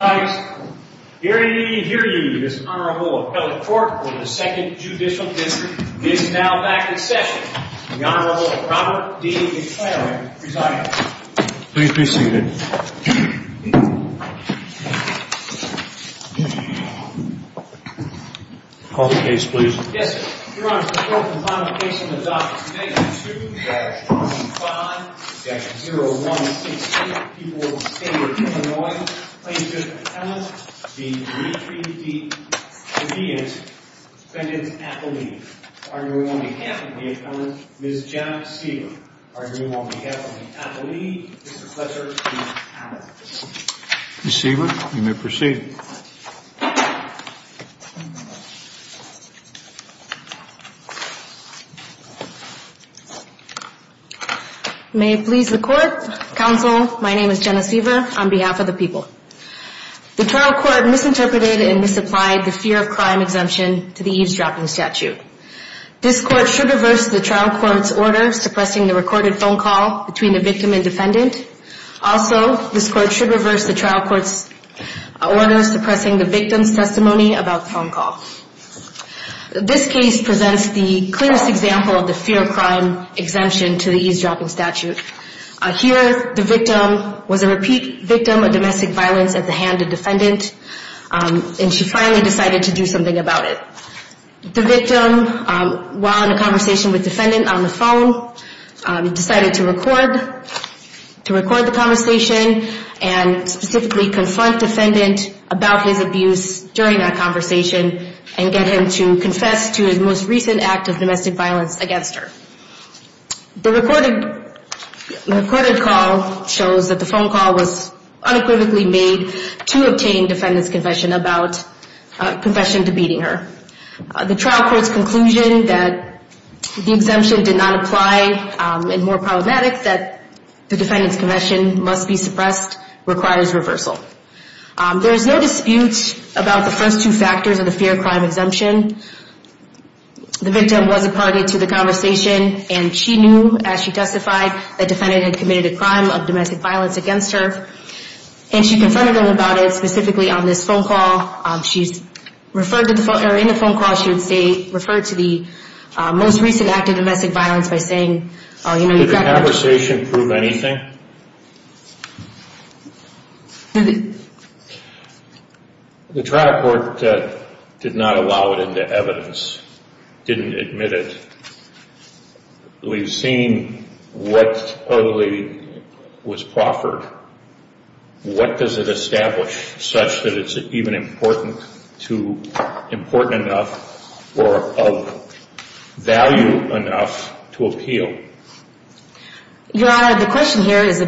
Here to hear you, this Honorable Appellate Court for the Second Judicial District is now back in session. The Honorable Robert D. McClaren presiding. Please be seated. Call the case, please. Yes, sir. Your Honor, the court will finally place on the docket, page 2-25-0168, People of the State of Illinois, plaintiff's appellant, the 3-3-D Bedient, defendant's appellee. Arguing on behalf of the appellant, Ms. Janet Siebert. Arguing on behalf of the appellee, Mr. Fletcher, the appellant. Ms. Siebert, you may proceed. May it please the court, counsel, my name is Janet Siebert on behalf of the people. The trial court misinterpreted and misapplied the fear of crime exemption to the eavesdropping statute. This court should reverse the trial court's order suppressing the recorded phone call between the victim and defendant. Also, this court should reverse the trial court's order suppressing the victim's testimony about the phone call. This case presents the clearest example of the fear of crime exemption to the eavesdropping statute. Here, the victim was a repeat victim of domestic violence at the hand of defendant, and she finally decided to do something about it. The victim, while in a conversation with defendant on the phone, decided to record the conversation and specifically confront defendant about his abuse during that conversation and get him to confess to his most recent act of domestic violence against her. The recorded call shows that the phone call was unequivocally made to obtain defendant's confession about confession to beating her. The trial court's conclusion that the exemption did not apply and more problematic that the defendant's confession must be suppressed requires reversal. There is no dispute about the first two factors of the fear of crime exemption. The victim was a party to the conversation, and she knew, as she testified, that defendant had committed a crime of domestic violence against her. And she confronted him about it specifically on this phone call. In the phone call, she referred to the most recent act of domestic violence by saying... Did the conversation prove anything? The trial court did not allow it into evidence, didn't admit it. We've seen what totally was proffered. What does it establish such that it's even important enough or of value enough to appeal? Your Honor, the question here is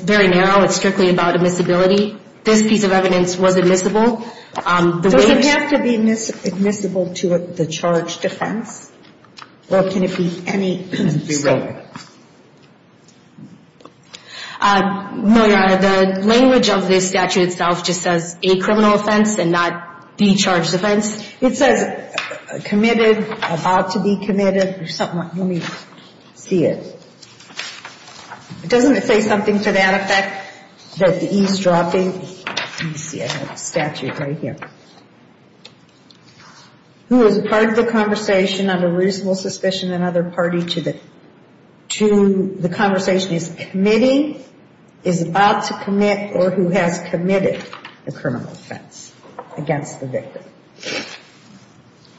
very narrow. It's strictly about admissibility. This piece of evidence was admissible. Does it have to be admissible to the charge defense, or can it be any state? No, Your Honor. The language of this statute itself just says a criminal offense and not the charge defense. It says committed, about to be committed, or something. Let me see it. Doesn't it say something to that effect that the E's dropping? Let me see. I have a statute right here. Who is part of the conversation under reasonable suspicion, another party to the conversation? Is committing, is about to commit, or who has committed a criminal offense against the victim?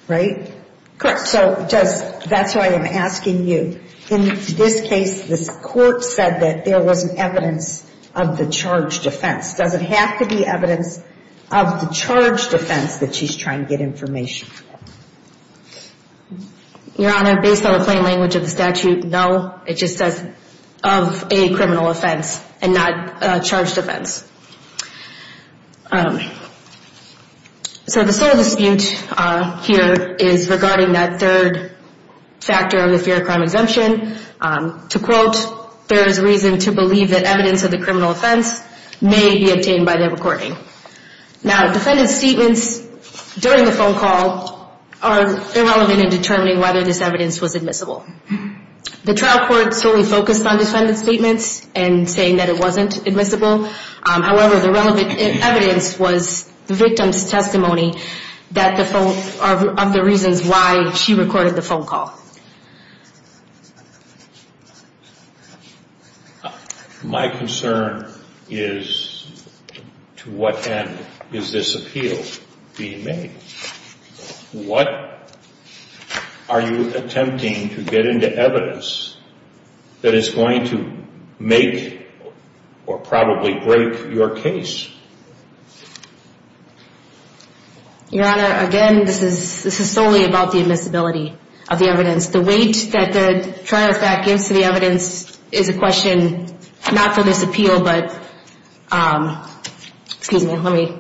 Right? Correct. So that's why I'm asking you. In this case, the court said that there was evidence of the charge defense. Does it have to be evidence of the charge defense that she's trying to get information? Your Honor, based on the plain language of the statute, no. It just says of a criminal offense and not a charge defense. So the sole dispute here is regarding that third factor of the fear of crime exemption. To quote, there is reason to believe that evidence of the criminal offense may be obtained by the recording. Now, defendant's statements during the phone call are irrelevant in determining whether this evidence was admissible. The trial court solely focused on defendant's statements and saying that it wasn't admissible. However, the relevant evidence was the victim's testimony of the reasons why she recorded the phone call. My concern is to what end is this appeal being made? What are you attempting to get into evidence that is going to make or probably break your case? Your Honor, again, this is solely about the admissibility of the evidence. The weight that the trial fact gives to the evidence is a question not for this appeal, but excuse me, let me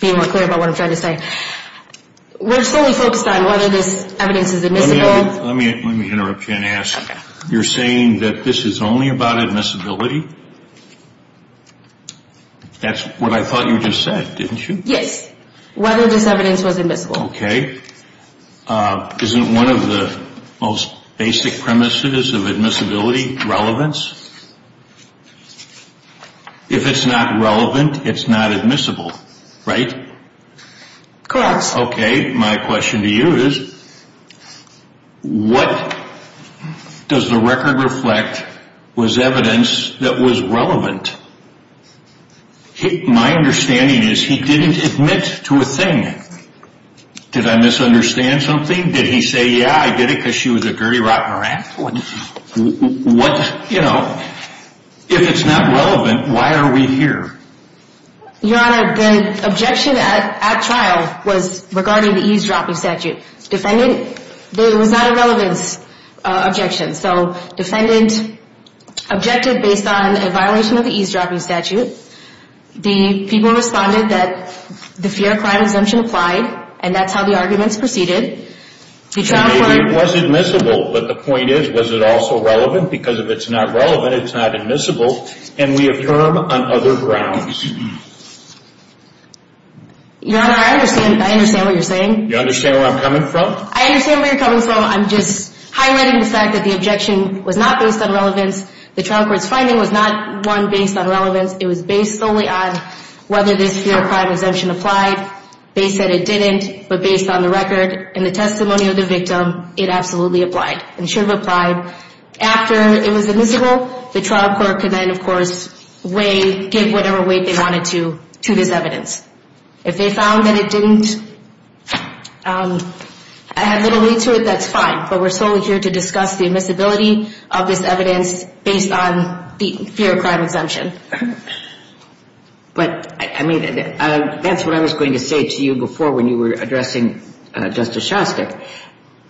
be more clear about what I'm trying to say. We're solely focused on whether this evidence is admissible. Let me interrupt you and ask. You're saying that this is only about admissibility? That's what I thought you just said, didn't you? Yes. Whether this evidence was admissible. Okay. Isn't one of the most basic premises of admissibility relevance? If it's not relevant, it's not admissible. Right? Of course. Okay. My question to you is what does the record reflect was evidence that was relevant? My understanding is he didn't admit to a thing. Did I misunderstand something? Did he say, yeah, I did it because she was a dirty rotten rat? What, you know, if it's not relevant, why are we here? Your Honor, the objection at trial was regarding the eavesdropping statute. Defendant, it was not a relevance objection. So defendant objected based on a violation of the eavesdropping statute. The people responded that the fear of crime exemption applied, and that's how the arguments proceeded. So maybe it was admissible, but the point is, was it also relevant? Because if it's not relevant, it's not admissible, and we have term on other grounds. Your Honor, I understand what you're saying. You understand where I'm coming from? I understand where you're coming from. I'm just highlighting the fact that the objection was not based on relevance. The trial court's finding was not one based on relevance. It was based solely on whether this fear of crime exemption applied. They said it didn't, but based on the record and the testimony of the victim, it absolutely applied and should have applied. After it was admissible, the trial court could then, of course, weigh, give whatever weight they wanted to to this evidence. If they found that it didn't have little lead to it, that's fine, but we're solely here to discuss the admissibility of this evidence based on the fear of crime exemption. But, I mean, that's what I was going to say to you before when you were addressing Justice Shostak.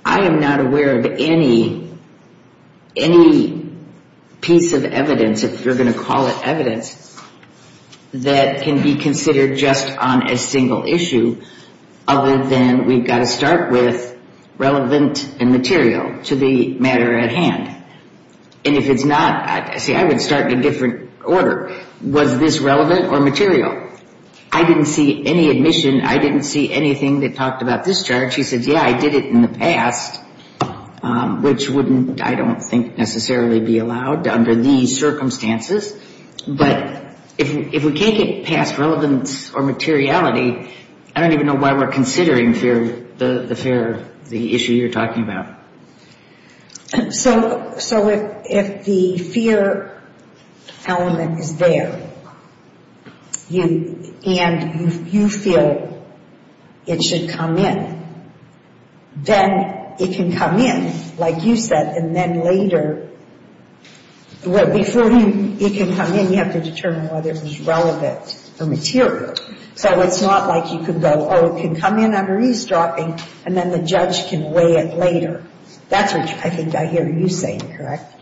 I am not aware of any piece of evidence, if you're going to call it evidence, that can be considered just on a single issue other than we've got to start with relevant and material to the matter at hand. And if it's not, see, I would start in a different order. Was this relevant or material? I didn't see any admission. I didn't see anything that talked about this charge. She said, yeah, I did it in the past, which wouldn't, I don't think, necessarily be allowed under these circumstances. But if we can't get past relevance or materiality, I don't even know why we're considering the issue you're talking about. So if the fear element is there and you feel it should come in, then it can come in, like you said, and then later, before it can come in, you have to determine whether it's relevant or material. So it's not like you can go, oh, it can come in, I'm restropping, and then the judge can weigh it later. That's what I think I hear you saying, correct?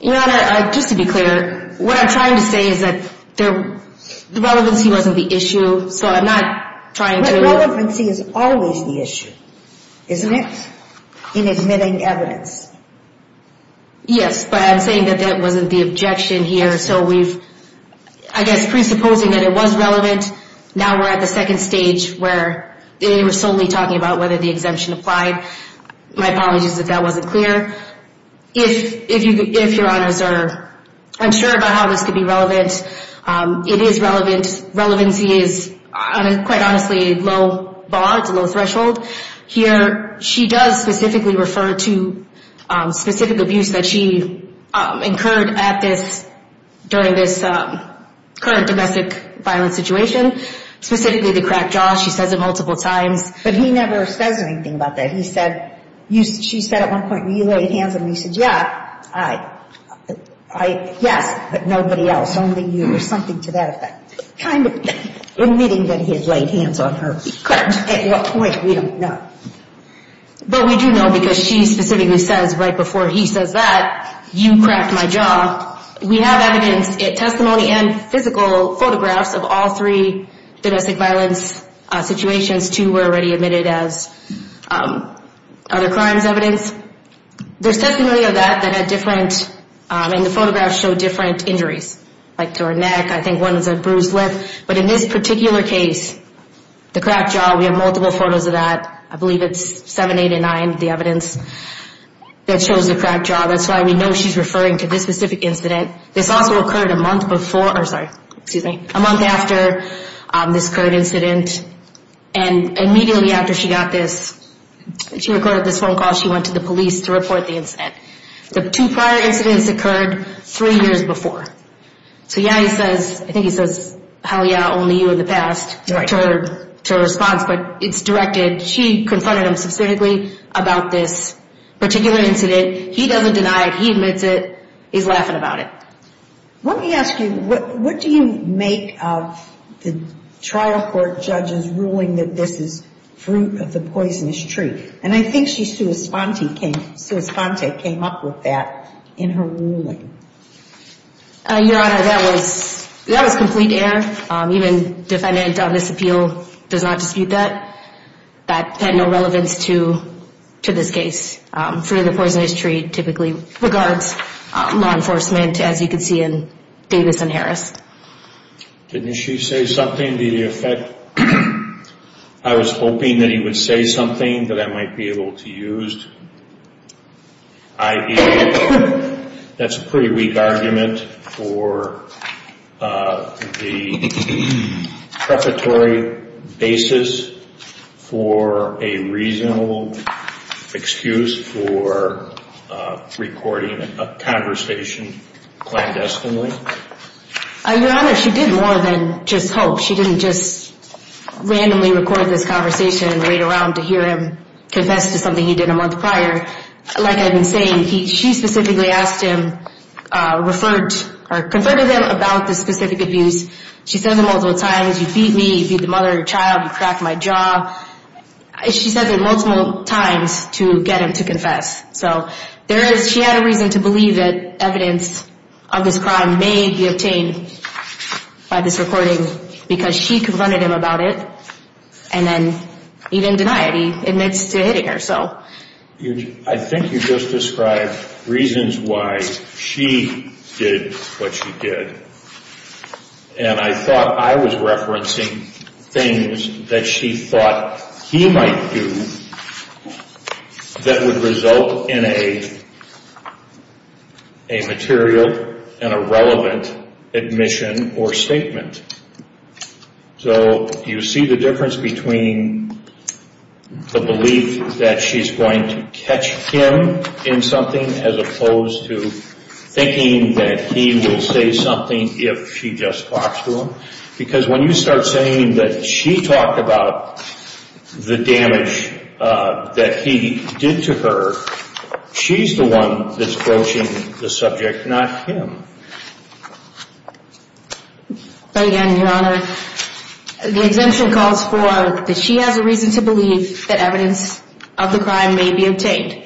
Your Honor, just to be clear, what I'm trying to say is that the relevancy wasn't the issue, so I'm not trying to – But relevancy is always the issue, isn't it, in admitting evidence? Yes, but I'm saying that that wasn't the objection here. So we've, I guess, presupposing that it was relevant. Now we're at the second stage where they were solely talking about whether the exemption applied. My apologies if that wasn't clear. If your Honors are unsure about how this could be relevant, it is relevant. Relevancy is, quite honestly, low bar, it's a low threshold. Here, she does specifically refer to specific abuse that she incurred at this, during this current domestic violence situation, specifically the crack jaw. She says it multiple times. But he never says anything about that. He said, she said at one point, you laid hands on me. He said, yeah, I, yes, but nobody else, only you, or something to that effect. Kind of admitting that he has laid hands on her. At what point, we don't know. But we do know because she specifically says, right before he says that, you cracked my jaw. We have evidence, testimony and physical photographs of all three domestic violence situations. Two were already admitted as other crimes evidence. There's testimony of that that had different, and the photographs show different injuries. Like to her neck, I think one was a bruised lip. But in this particular case, the crack jaw, we have multiple photos of that. I believe it's 789, the evidence, that shows the crack jaw. That's why we know she's referring to this specific incident. This also occurred a month before, or sorry, excuse me, a month after this current incident. And immediately after she got this, she recorded this phone call, she went to the police to report the incident. The two prior incidents occurred three years before. So yeah, he says, I think he says, hell yeah, only you in the past, to her response. But it's directed, she confronted him specifically about this particular incident. He doesn't deny it. He admits it. He's laughing about it. Let me ask you, what do you make of the trial court judges ruling that this is fruit of the poisonous tree? And I think she's sui sponte came up with that in her ruling. Your Honor, that was complete error. Even defendant of this appeal does not dispute that. That had no relevance to this case. Fruit of the poisonous tree typically regards law enforcement, as you can see in Davis and Harris. Didn't she say something? I was hoping that he would say something that I might be able to use. That's a pretty weak argument for the prefatory basis for a reasonable excuse for recording a conversation clandestinely. Your Honor, she did more than just hope. She didn't just randomly record this conversation and wait around to hear him confess to something he did a month prior. Like I've been saying, she specifically asked him, referred or confronted him about this specific abuse. She says it multiple times. You beat me. You beat the mother and child. You cracked my jaw. She says it multiple times to get him to confess. She had a reason to believe that evidence of this crime may be obtained by this recording because she confronted him about it. And then he didn't deny it. He admits to hitting her. I think you just described reasons why she did what she did. And I thought I was referencing things that she thought he might do that would result in a material and a relevant admission or statement. So you see the difference between the belief that she's going to catch him in something as opposed to thinking that he will say something if she just talks to him? Because when you start saying that she talked about the damage that he did to her, she's the one that's broaching the subject, not him. But again, Your Honor, the exemption calls for that she has a reason to believe that evidence of the crime may be obtained.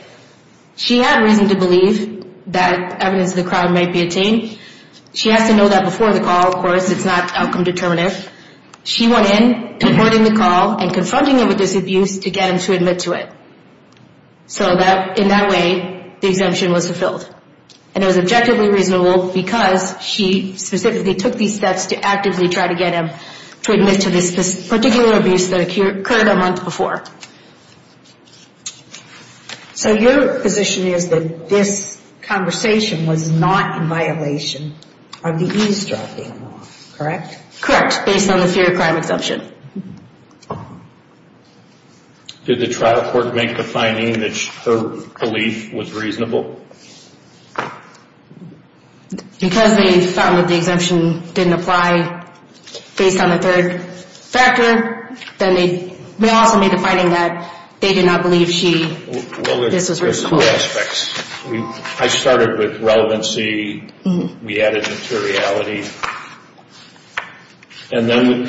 She had a reason to believe that evidence of the crime may be obtained. She has to know that before the call, of course, it's not outcome determinative. She went in, recording the call, and confronting him with this abuse to get him to admit to it. So in that way, the exemption was fulfilled. And it was objectively reasonable because she specifically took these steps to actively try to get him to admit to this particular abuse that occurred a month before. So your position is that this conversation was not in violation of the EASE drop-in law, correct? Correct, based on the fear of crime exemption. Did the trial court make the finding that her belief was reasonable? Because they found that the exemption didn't apply based on the third factor, then they also made the finding that they did not believe she, this was reasonable. Well, there's two aspects. I started with relevancy. We added materiality. And then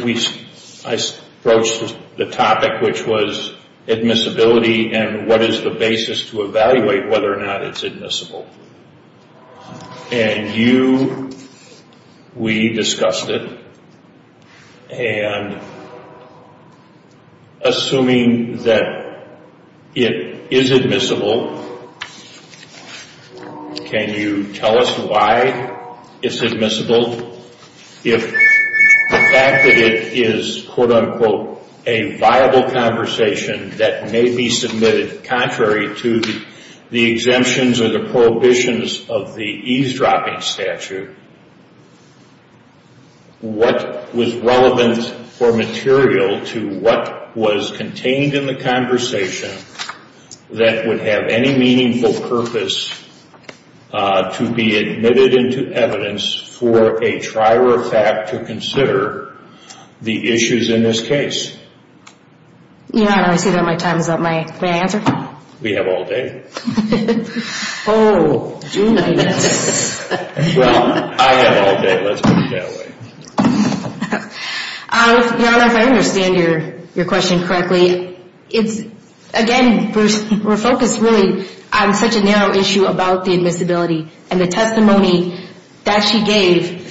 I approached the topic, which was admissibility and what is the basis to evaluate whether or not it's admissible. And you, we discussed it. And assuming that it is admissible, can you tell us why it's admissible? If the fact that it is, quote-unquote, a viable conversation that may be submitted contrary to the exemptions or the prohibitions of the EASE drop-in statute, what was relevant or material to what was contained in the conversation that would have any meaningful purpose to be admitted into evidence for a trial or fact to consider the issues in this case? Yeah, I see that my time is up. May I answer? We have all day. Oh, do we? Well, I have all day. Let's put it that way. Your Honor, if I understand your question correctly, it's, again, we're focused really on such a narrow issue about the admissibility. And the testimony that she gave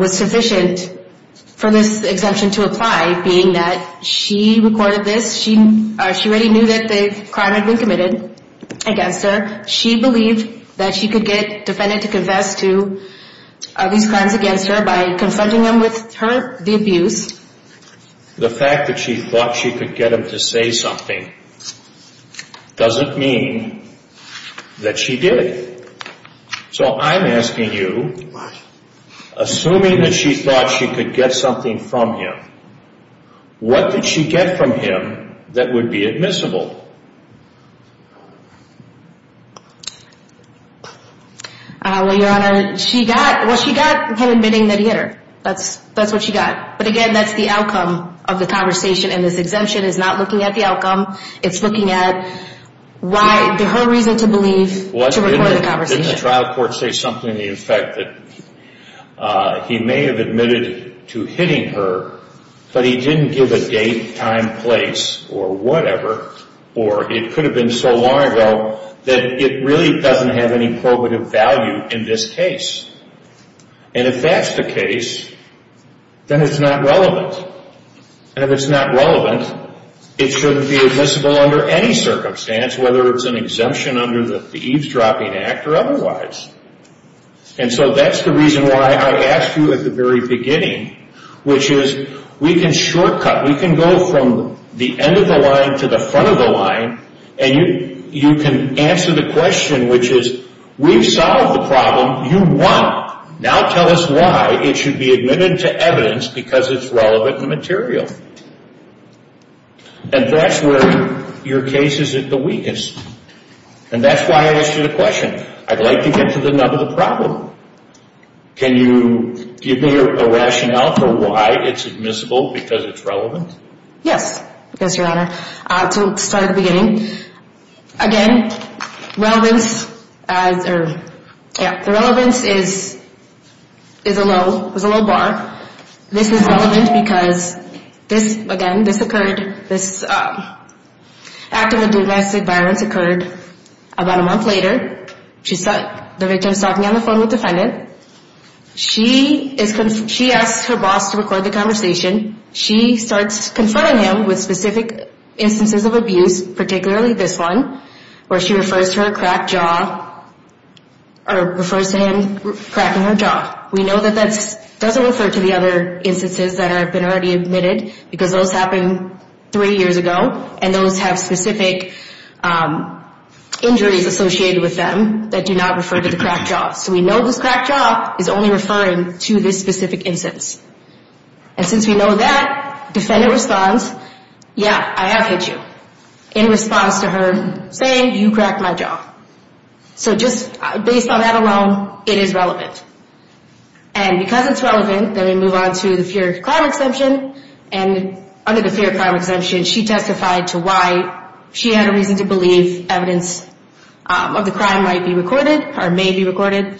was sufficient for this exemption to apply, being that she recorded this. She already knew that the crime had been committed against her. She believed that she could get defendant to confess to these crimes against her by confronting them with the abuse. The fact that she thought she could get him to say something doesn't mean that she did. So I'm asking you, assuming that she thought she could get something from him, what did she get from him that would be admissible? Well, your Honor, she got him admitting that he hit her. That's what she got. But, again, that's the outcome of the conversation. And this exemption is not looking at the outcome. It's looking at why, her reason to believe to record the conversation. Didn't the trial court say something in effect that he may have admitted to hitting her, but he didn't give a date, time, place, or whatever? Or it could have been so long ago that it really doesn't have any probative value in this case. And if that's the case, then it's not relevant. And if it's not relevant, it shouldn't be admissible under any circumstance, whether it's an exemption under the eavesdropping act or otherwise. And so that's the reason why I asked you at the very beginning, which is we can shortcut. We can go from the end of the line to the front of the line, and you can answer the question, which is, we've solved the problem. You want, now tell us why it should be admitted to evidence because it's relevant and material. And that's where your case is at the weakest. And that's why I asked you the question. I'd like to get to the nub of the problem. Can you give me a rationale for why it's admissible because it's relevant? Yes, Mr. Honor. To start at the beginning, again, relevance is a low bar. This is relevant because this, again, this occurred, this act of domestic violence occurred about a month later. The victim is talking on the phone with the defendant. She asked her boss to record the conversation. She starts confronting him with specific instances of abuse, particularly this one, where she refers to her cracked jaw or refers to him cracking her jaw. We know that that doesn't refer to the other instances that have been already admitted because those happened three years ago, and those have specific injuries associated with them that do not refer to the cracked jaw. So we know this cracked jaw is only referring to this specific instance. And since we know that, defendant responds, yeah, I have hit you, in response to her saying, you cracked my jaw. So just based on that alone, it is relevant. And because it's relevant, then we move on to the fear of crime exemption. And under the fear of crime exemption, she testified to why she had a reason to believe evidence of the crime might be recorded or may be recorded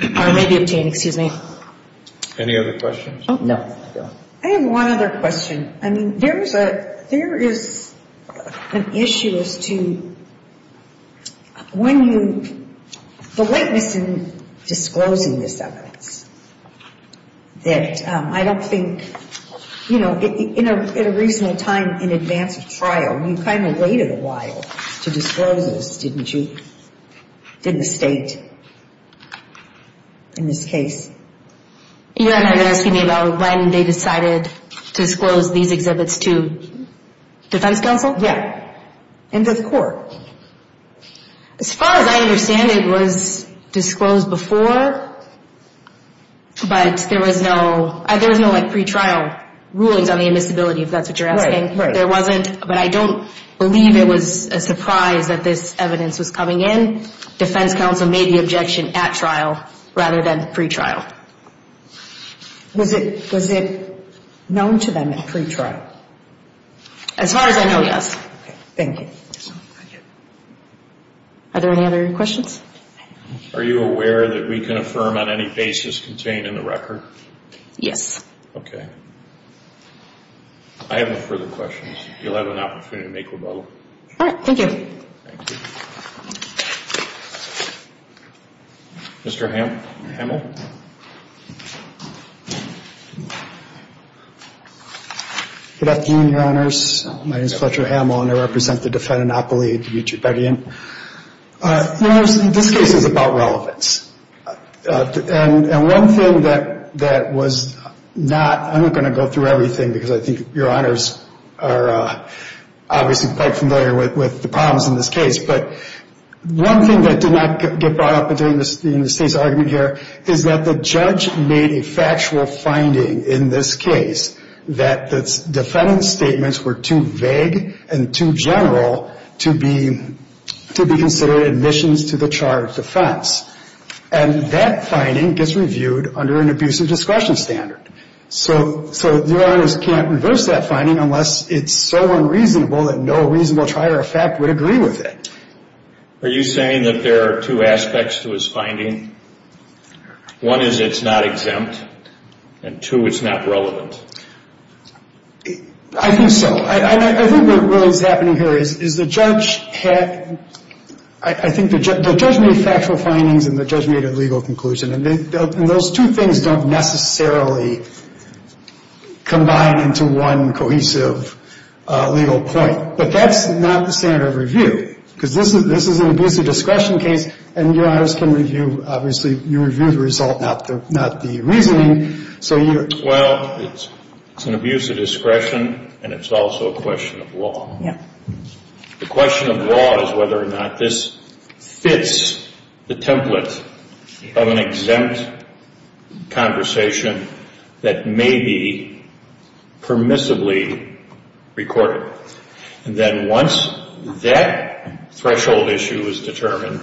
or may be obtained. Excuse me. Any other questions? No. I have one other question. I mean, there is an issue as to when you, the lateness in disclosing this evidence, that I don't think, you know, in a reasonable time in advance of trial, you kind of waited a while to disclose this, didn't you? Did the state in this case? You're asking me about when they decided to disclose these exhibits to defense counsel? And to the court. As far as I understand, it was disclosed before, but there was no, there was no, like, pre-trial rulings on the admissibility, if that's what you're asking. Right, right. There wasn't, but I don't believe it was a surprise that this evidence was coming in. Defense counsel made the objection at trial rather than pre-trial. Was it known to them at pre-trial? As far as I know, yes. Thank you. Are there any other questions? Are you aware that we can affirm on any basis contained in the record? Yes. Okay. I have no further questions. You'll have an opportunity to make rebuttal. All right. Thank you. Thank you. Mr. Hamill? Good afternoon, Your Honors. My name is Fletcher Hamill, and I represent the Defendant Appellee at the Beachy Petty Inn. This case is about relevance. And one thing that was not, I'm not going to go through everything because I think Your Honors are obviously quite familiar with the problems in this case, but one thing that did not get brought up in the United States argument here is that the judge made a factual finding in this case that the defendant's statements were too vague and too general to be considered admissions to the charge of defense. And that finding gets reviewed under an abusive discretion standard. So Your Honors can't reverse that finding unless it's so unreasonable that no reasonable trier of fact would agree with it. Are you saying that there are two aspects to his finding? One is it's not exempt, and two, it's not relevant. I think so. I think what really is happening here is the judge had, I think the judge made factual findings and the judge made a legal conclusion. And those two things don't necessarily combine into one cohesive legal point. But that's not the standard of review. Because this is an abusive discretion case, and Your Honors can review, obviously, you review the result, not the reasoning. Well, it's an abusive discretion, and it's also a question of law. The question of law is whether or not this fits the template of an exempt conversation that may be permissibly recorded. And then once that threshold issue is determined,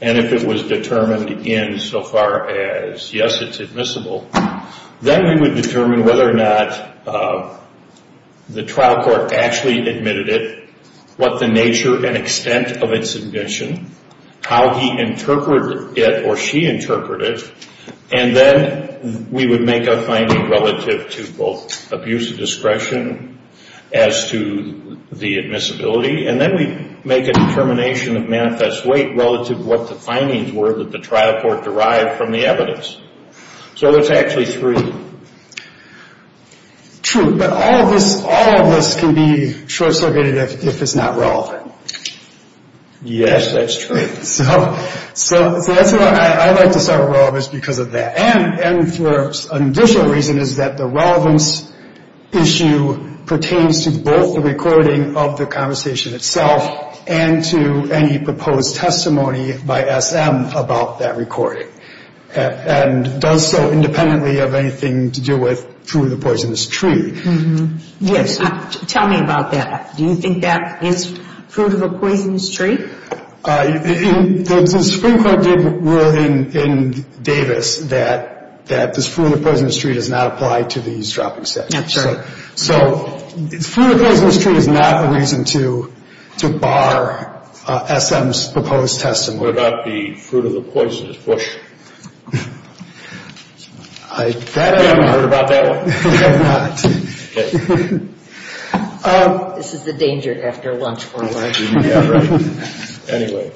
and if it was determined in so far as, yes, it's admissible, then we would determine whether or not the trial court actually admitted it, what the nature and extent of its admission, how he interpreted it or she interpreted it, and then we would make a finding relative to both abusive discretion as to the admissibility, and then we'd make a determination of manifest weight relative to what the findings were that the trial court derived from the evidence. So it's actually three. True, but all of this can be short-circuited if it's not relevant. Yes, that's true. So that's why I like to start with relevance because of that. And for an additional reason is that the relevance issue pertains to both the recording of the conversation itself and to any proposed testimony by SM about that recording, and does so independently of anything to do with fruit of a poisonous tree. Yes, tell me about that. Do you think that is fruit of a poisonous tree? The Supreme Court did rule in Davis that this fruit of a poisonous tree does not apply to these dropping sections. That's right. So fruit of a poisonous tree is not a reason to bar SM's proposed testimony. What about the fruit of a poisonous bush? I haven't heard about that one. I have not. Okay. This is the danger after lunch for all of you. Yeah, right. Anyway.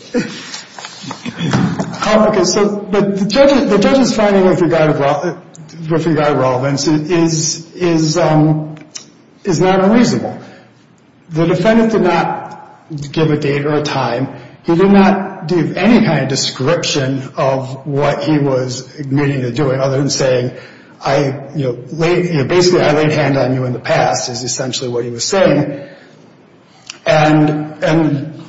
Okay, so the judge's finding with regard to relevance is not unreasonable. The defendant did not give a date or a time. He did not give any kind of description of what he was admitting to doing other than saying, basically, I laid hand on you in the past is essentially what he was saying. And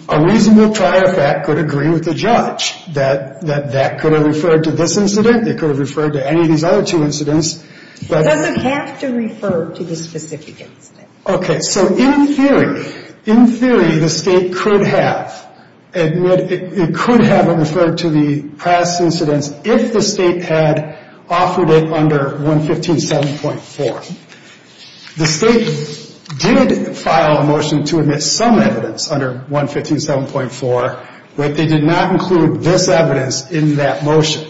a reasonable trier fact could agree with the judge that that could have referred to this incident. It could have referred to any of these other two incidents. It doesn't have to refer to the specific incident. Okay, so in theory, in theory, the state could have admitted, it could have referred to the past incidents if the state had offered it under 115.7.4. The state did file a motion to admit some evidence under 115.7.4, but they did not include this evidence in that motion.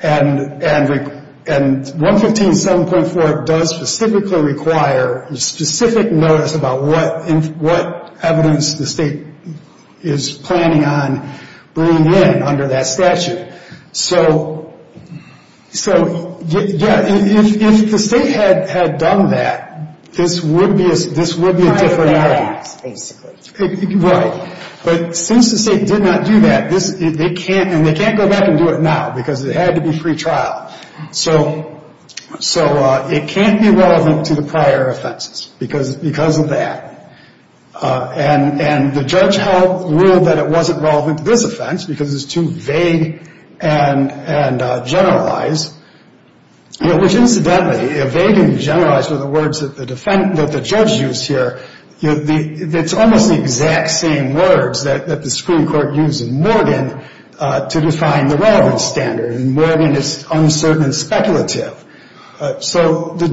And 115.7.4 does specifically require a specific notice about what evidence the state is planning on bringing in under that statute. So, yeah, if the state had done that, this would be a different matter. Prior to that, basically. Right. But since the state did not do that, they can't go back and do it now because it had to be free trial. So it can't be relevant to the prior offenses because of that. And the judge ruled that it wasn't relevant to this offense because it's too vague and generalized. Which, incidentally, vague and generalized are the words that the judge used here. It's almost the exact same words that the Supreme Court used in Morgan to define the relevant standard. In Morgan, it's uncertain and speculative. So the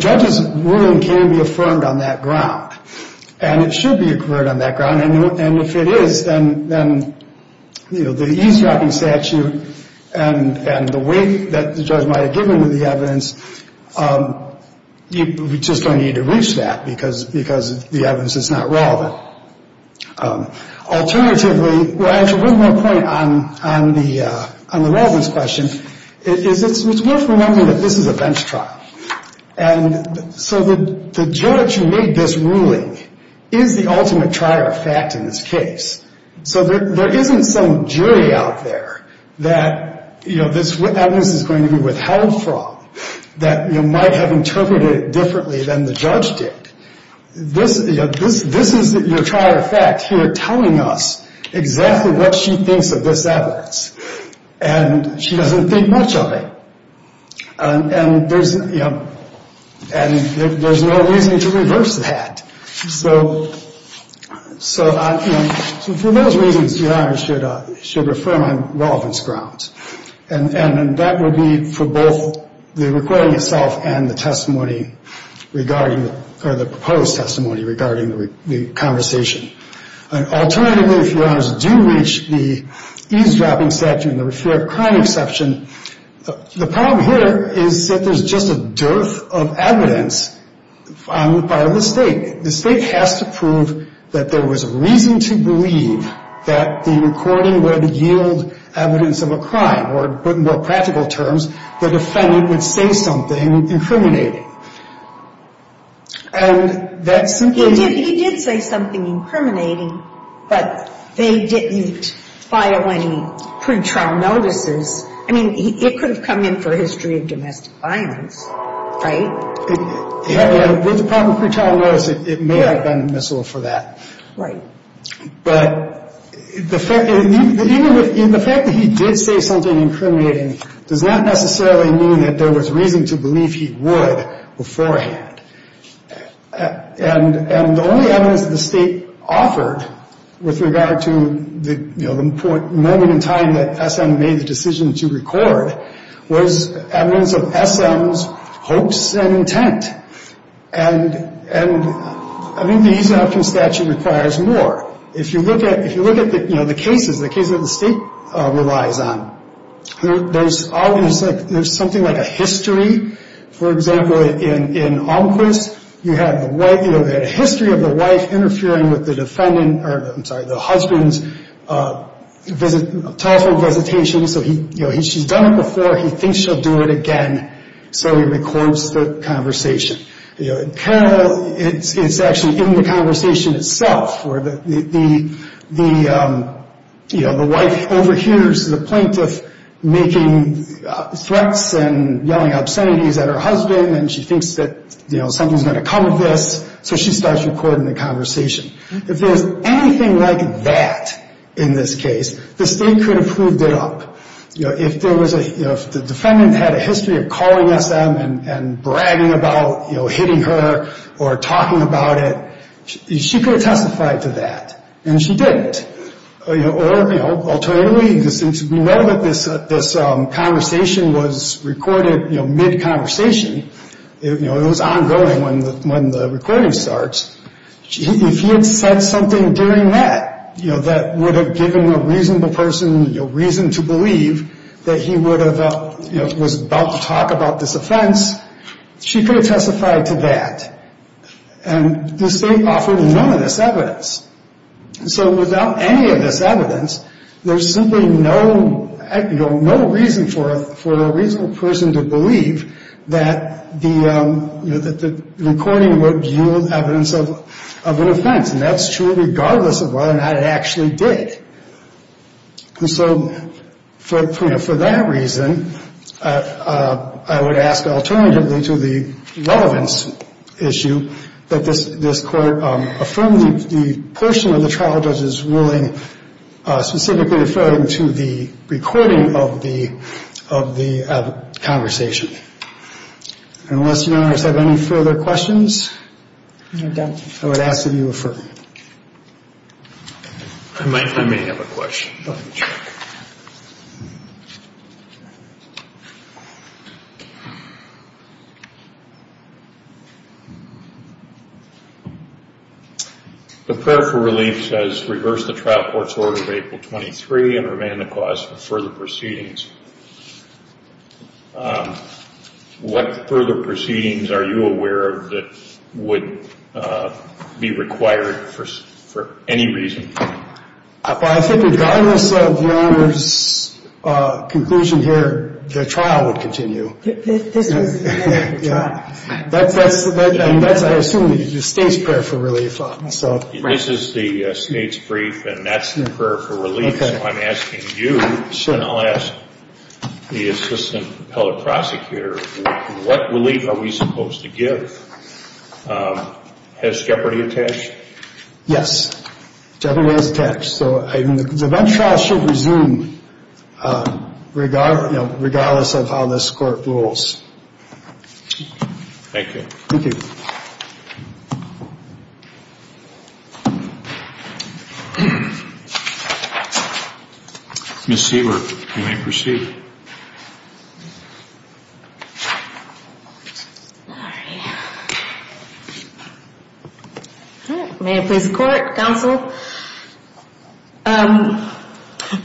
judge's ruling can be affirmed on that ground, and it should be affirmed on that ground. And if it is, then, you know, the eavesdropping statute and the weight that the judge might have given to the evidence, you just don't need to reach that because the evidence is not relevant. Alternatively, well, actually, one more point on the relevance question is it's worth remembering that this is a bench trial. And so the judge who made this ruling is the ultimate trier of fact in this case. So there isn't some jury out there that, you know, this evidence is going to be withheld from, that might have interpreted it differently than the judge did. This is your trier of fact here telling us exactly what she thinks of this evidence. And she doesn't think much of it. And there's, you know, and there's no reason to reverse that. So, you know, for those reasons, your Honor should affirm on relevance grounds. And that would be for both the recording itself and the testimony regarding, or the proposed testimony regarding the conversation. Alternatively, if your Honors do reach the eavesdropping statute and the fair crime exception, the problem here is that there's just a dearth of evidence on the part of the State. The State has to prove that there was reason to believe that the recording would yield evidence of a crime. Or put in more practical terms, the defendant would say something incriminating. And that's simply not. He did say something incriminating, but they didn't file any pretrial notices. I mean, it could have come in for a history of domestic violence, right? With the proper pretrial notice, it may have been admissible for that. Right. But the fact that he did say something incriminating does not necessarily mean that there was reason to believe he would beforehand. And the only evidence that the State offered with regard to the moment in time that SM made the decision to record was evidence of SM's hopes and intent. And I think the eavesdropping statute requires more. If you look at the cases, the cases that the State relies on, there's something like a history. For example, in Olmquist, you have the history of the wife interfering with the husband's telephone visitation. So she's done it before. He thinks she'll do it again. So he records the conversation. In Carroll, it's actually in the conversation itself where the wife overhears the plaintiff making threats and yelling obscenities at her husband, and she thinks that something's going to come of this, so she starts recording the conversation. If there's anything like that in this case, the State could have proved it up. If the defendant had a history of calling SM and bragging about hitting her or talking about it, she could have testified to that, and she didn't. Alternatively, since we know that this conversation was recorded mid-conversation, it was ongoing when the recording starts, if he had said something during that that would have given a reasonable person reason to believe that he was about to talk about this offense, she could have testified to that, and the State offered none of this evidence. So without any of this evidence, there's simply no reason for a reasonable person to believe that the recording would yield evidence of an offense, and that's true regardless of whether or not it actually did. And so, you know, for that reason, I would ask alternatively to the relevance issue, that this Court affirm the portion of the trial judge's ruling specifically referring to the recording of the conversation. Unless Your Honors have any further questions, I would ask that you affirm. I may have a question. The prayer for relief says reverse the trial court's order of April 23 and remand the cause for further proceedings. What further proceedings are you aware of that would be required for any reason? I think regardless of Your Honors' conclusion here, the trial would continue. This is the trial. That's, I assume, the State's prayer for relief. This is the State's brief, and that's the prayer for relief. So I'm asking you, and I'll ask the Assistant Appellate Prosecutor, what relief are we supposed to give? Has jeopardy attached? Yes, jeopardy is attached. So the event trial should resume regardless of how this Court rules. Thank you. Thank you. Ms. Siebert, you may proceed. May it please the Court, Counsel?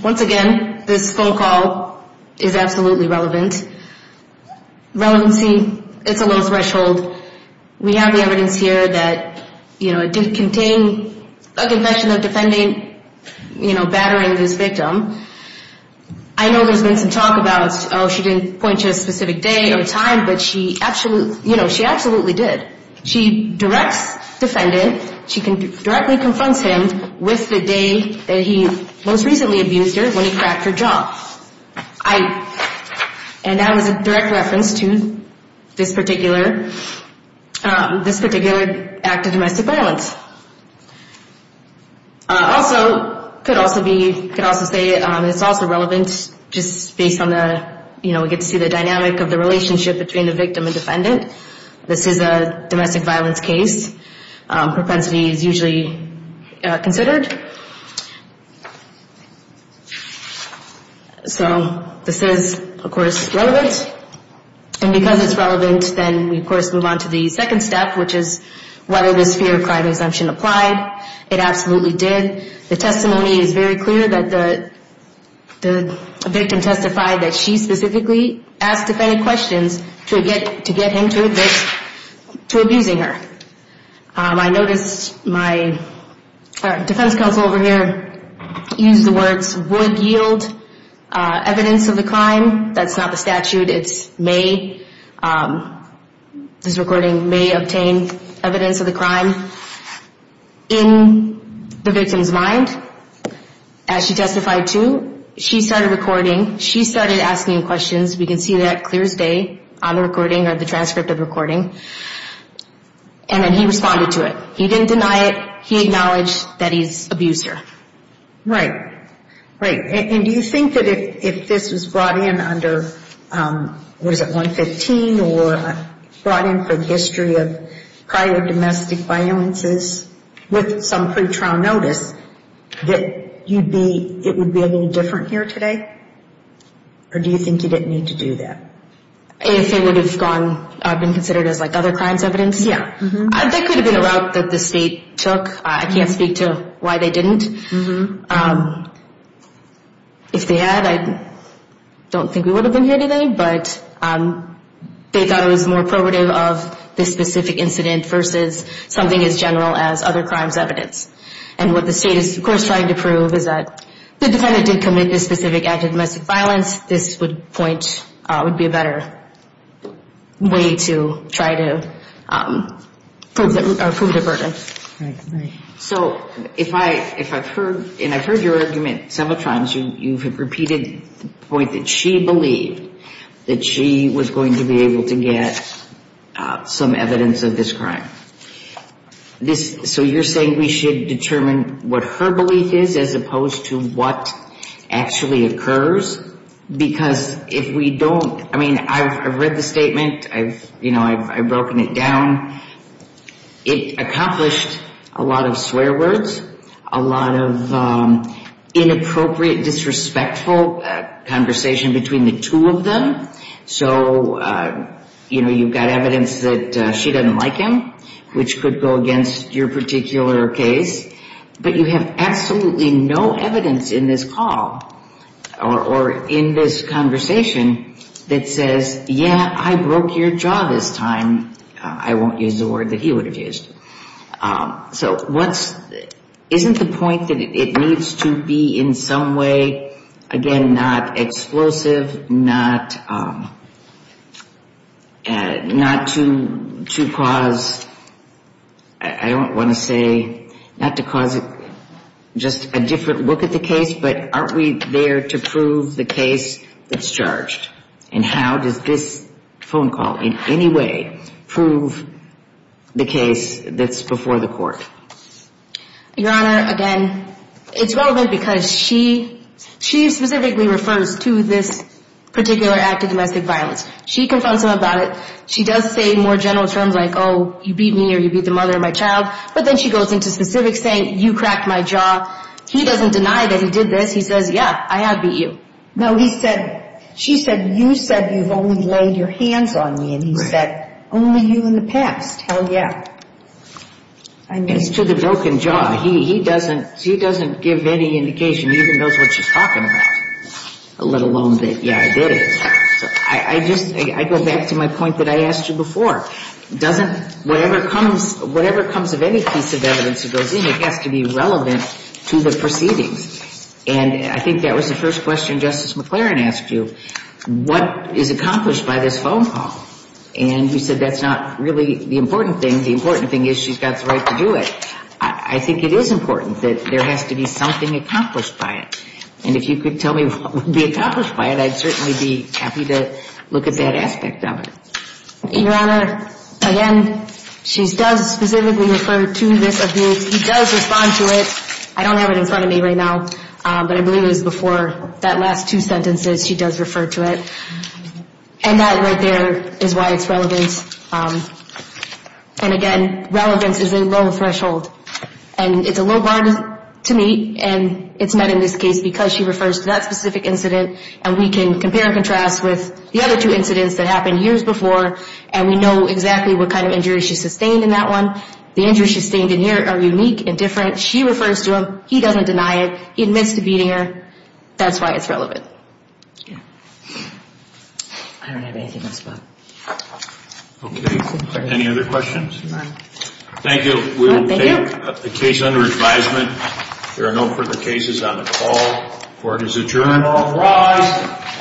Once again, this phone call is absolutely relevant. Relevancy, it's a low threshold. We have the evidence here that, you know, it did contain a confession of the defendant, you know, battering this victim. I know there's been some talk about, oh, she didn't point to a specific day or time, but she absolutely, you know, she absolutely did. She directs the defendant, she directly confronts him with the day that he most recently abused her when he cracked her jaw. I, and that was a direct reference to this particular, this particular act of domestic violence. Also, could also be, could also say it's also relevant just based on the, you know, we get to see the dynamic of the relationship between the victim and defendant. This is a domestic violence case. Propensity is usually considered. So, this is, of course, relevant. And because it's relevant, then we, of course, move on to the second step, which is whether this fear of crime exemption applied. It absolutely did. The testimony is very clear that the victim testified that she specifically asked defendant questions to get him to admit to abusing her. I noticed my defense counsel over here used the words would yield evidence of the crime. That's not the statute. It's may. This recording may obtain evidence of the crime. In the victim's mind, as she testified to, she started recording. She started asking questions. We can see that clear as day on the recording or the transcript of the recording. And then he responded to it. He didn't deny it. He acknowledged that he's abused her. Right. Right. And do you think that if this was brought in under, what is it, 115 or brought in for the history of prior domestic violences with some pretrial notice, that you'd be, it would be a little different here today? Or do you think you didn't need to do that? If it would have gone, been considered as like other crimes evidence? Yeah. That could have been a route that the state took. I can't speak to why they didn't. If they had, I don't think we would have been here today. But they thought it was more probative of this specific incident versus something as general as other crimes evidence. And what the state is, of course, trying to prove is that the defendant did commit this specific act of domestic violence. This would point, would be a better way to try to prove the burden. Right. Right. So if I, if I've heard, and I've heard your argument several times, you've repeated the point that she believed that she was going to be able to get some evidence of this crime. This, so you're saying we should determine what her belief is as opposed to what actually occurs? Because if we don't, I mean, I've read the statement. I've, you know, I've broken it down. It accomplished a lot of swear words. A lot of inappropriate, disrespectful conversation between the two of them. So, you know, you've got evidence that she doesn't like him, which could go against your particular case. But you have absolutely no evidence in this call or in this conversation that says, yeah, I broke your jaw this time. I won't use the word that he would have used. So what's, isn't the point that it needs to be in some way, again, not explosive, not, not to cause, I don't want to say, not to cause just a different look at the case. But aren't we there to prove the case that's charged? And how does this phone call in any way prove the case that's before the court? Your Honor, again, it's relevant because she, she specifically refers to this particular act of domestic violence. She confronts him about it. She does say more general terms like, oh, you beat me or you beat the mother of my child. But then she goes into specifics saying you cracked my jaw. He doesn't deny that he did this. He says, yeah, I have beat you. No, he said, she said, you said you've only laid your hands on me. And he said, only you in the past. Hell, yeah. I mean. It's to the broken jaw. He doesn't, she doesn't give any indication. He even knows what she's talking about, let alone that, yeah, I did it. I just, I go back to my point that I asked you before. Doesn't, whatever comes, whatever comes of any piece of evidence that goes in, it has to be relevant to the proceedings. And I think that was the first question Justice McLaren asked you. What is accomplished by this phone call? And you said that's not really the important thing. The important thing is she's got the right to do it. I think it is important that there has to be something accomplished by it. And if you could tell me what would be accomplished by it, I'd certainly be happy to look at that aspect of it. Your Honor, again, she does specifically refer to this abuse. He does respond to it. I don't have it in front of me right now, but I believe it was before that last two sentences she does refer to it. And that right there is why it's relevant. And, again, relevance is a low threshold. And it's a low bar to meet, and it's met in this case because she refers to that specific incident. And we can compare and contrast with the other two incidents that happened years before, and we know exactly what kind of injuries she sustained in that one. The injuries she sustained in here are unique and different. She refers to them. He doesn't deny it. He admits to beating her. That's why it's relevant. I don't have anything else. Okay. Any other questions? No. Thank you. We will take the case under advisement. There are no further cases on the call. Court is adjourned.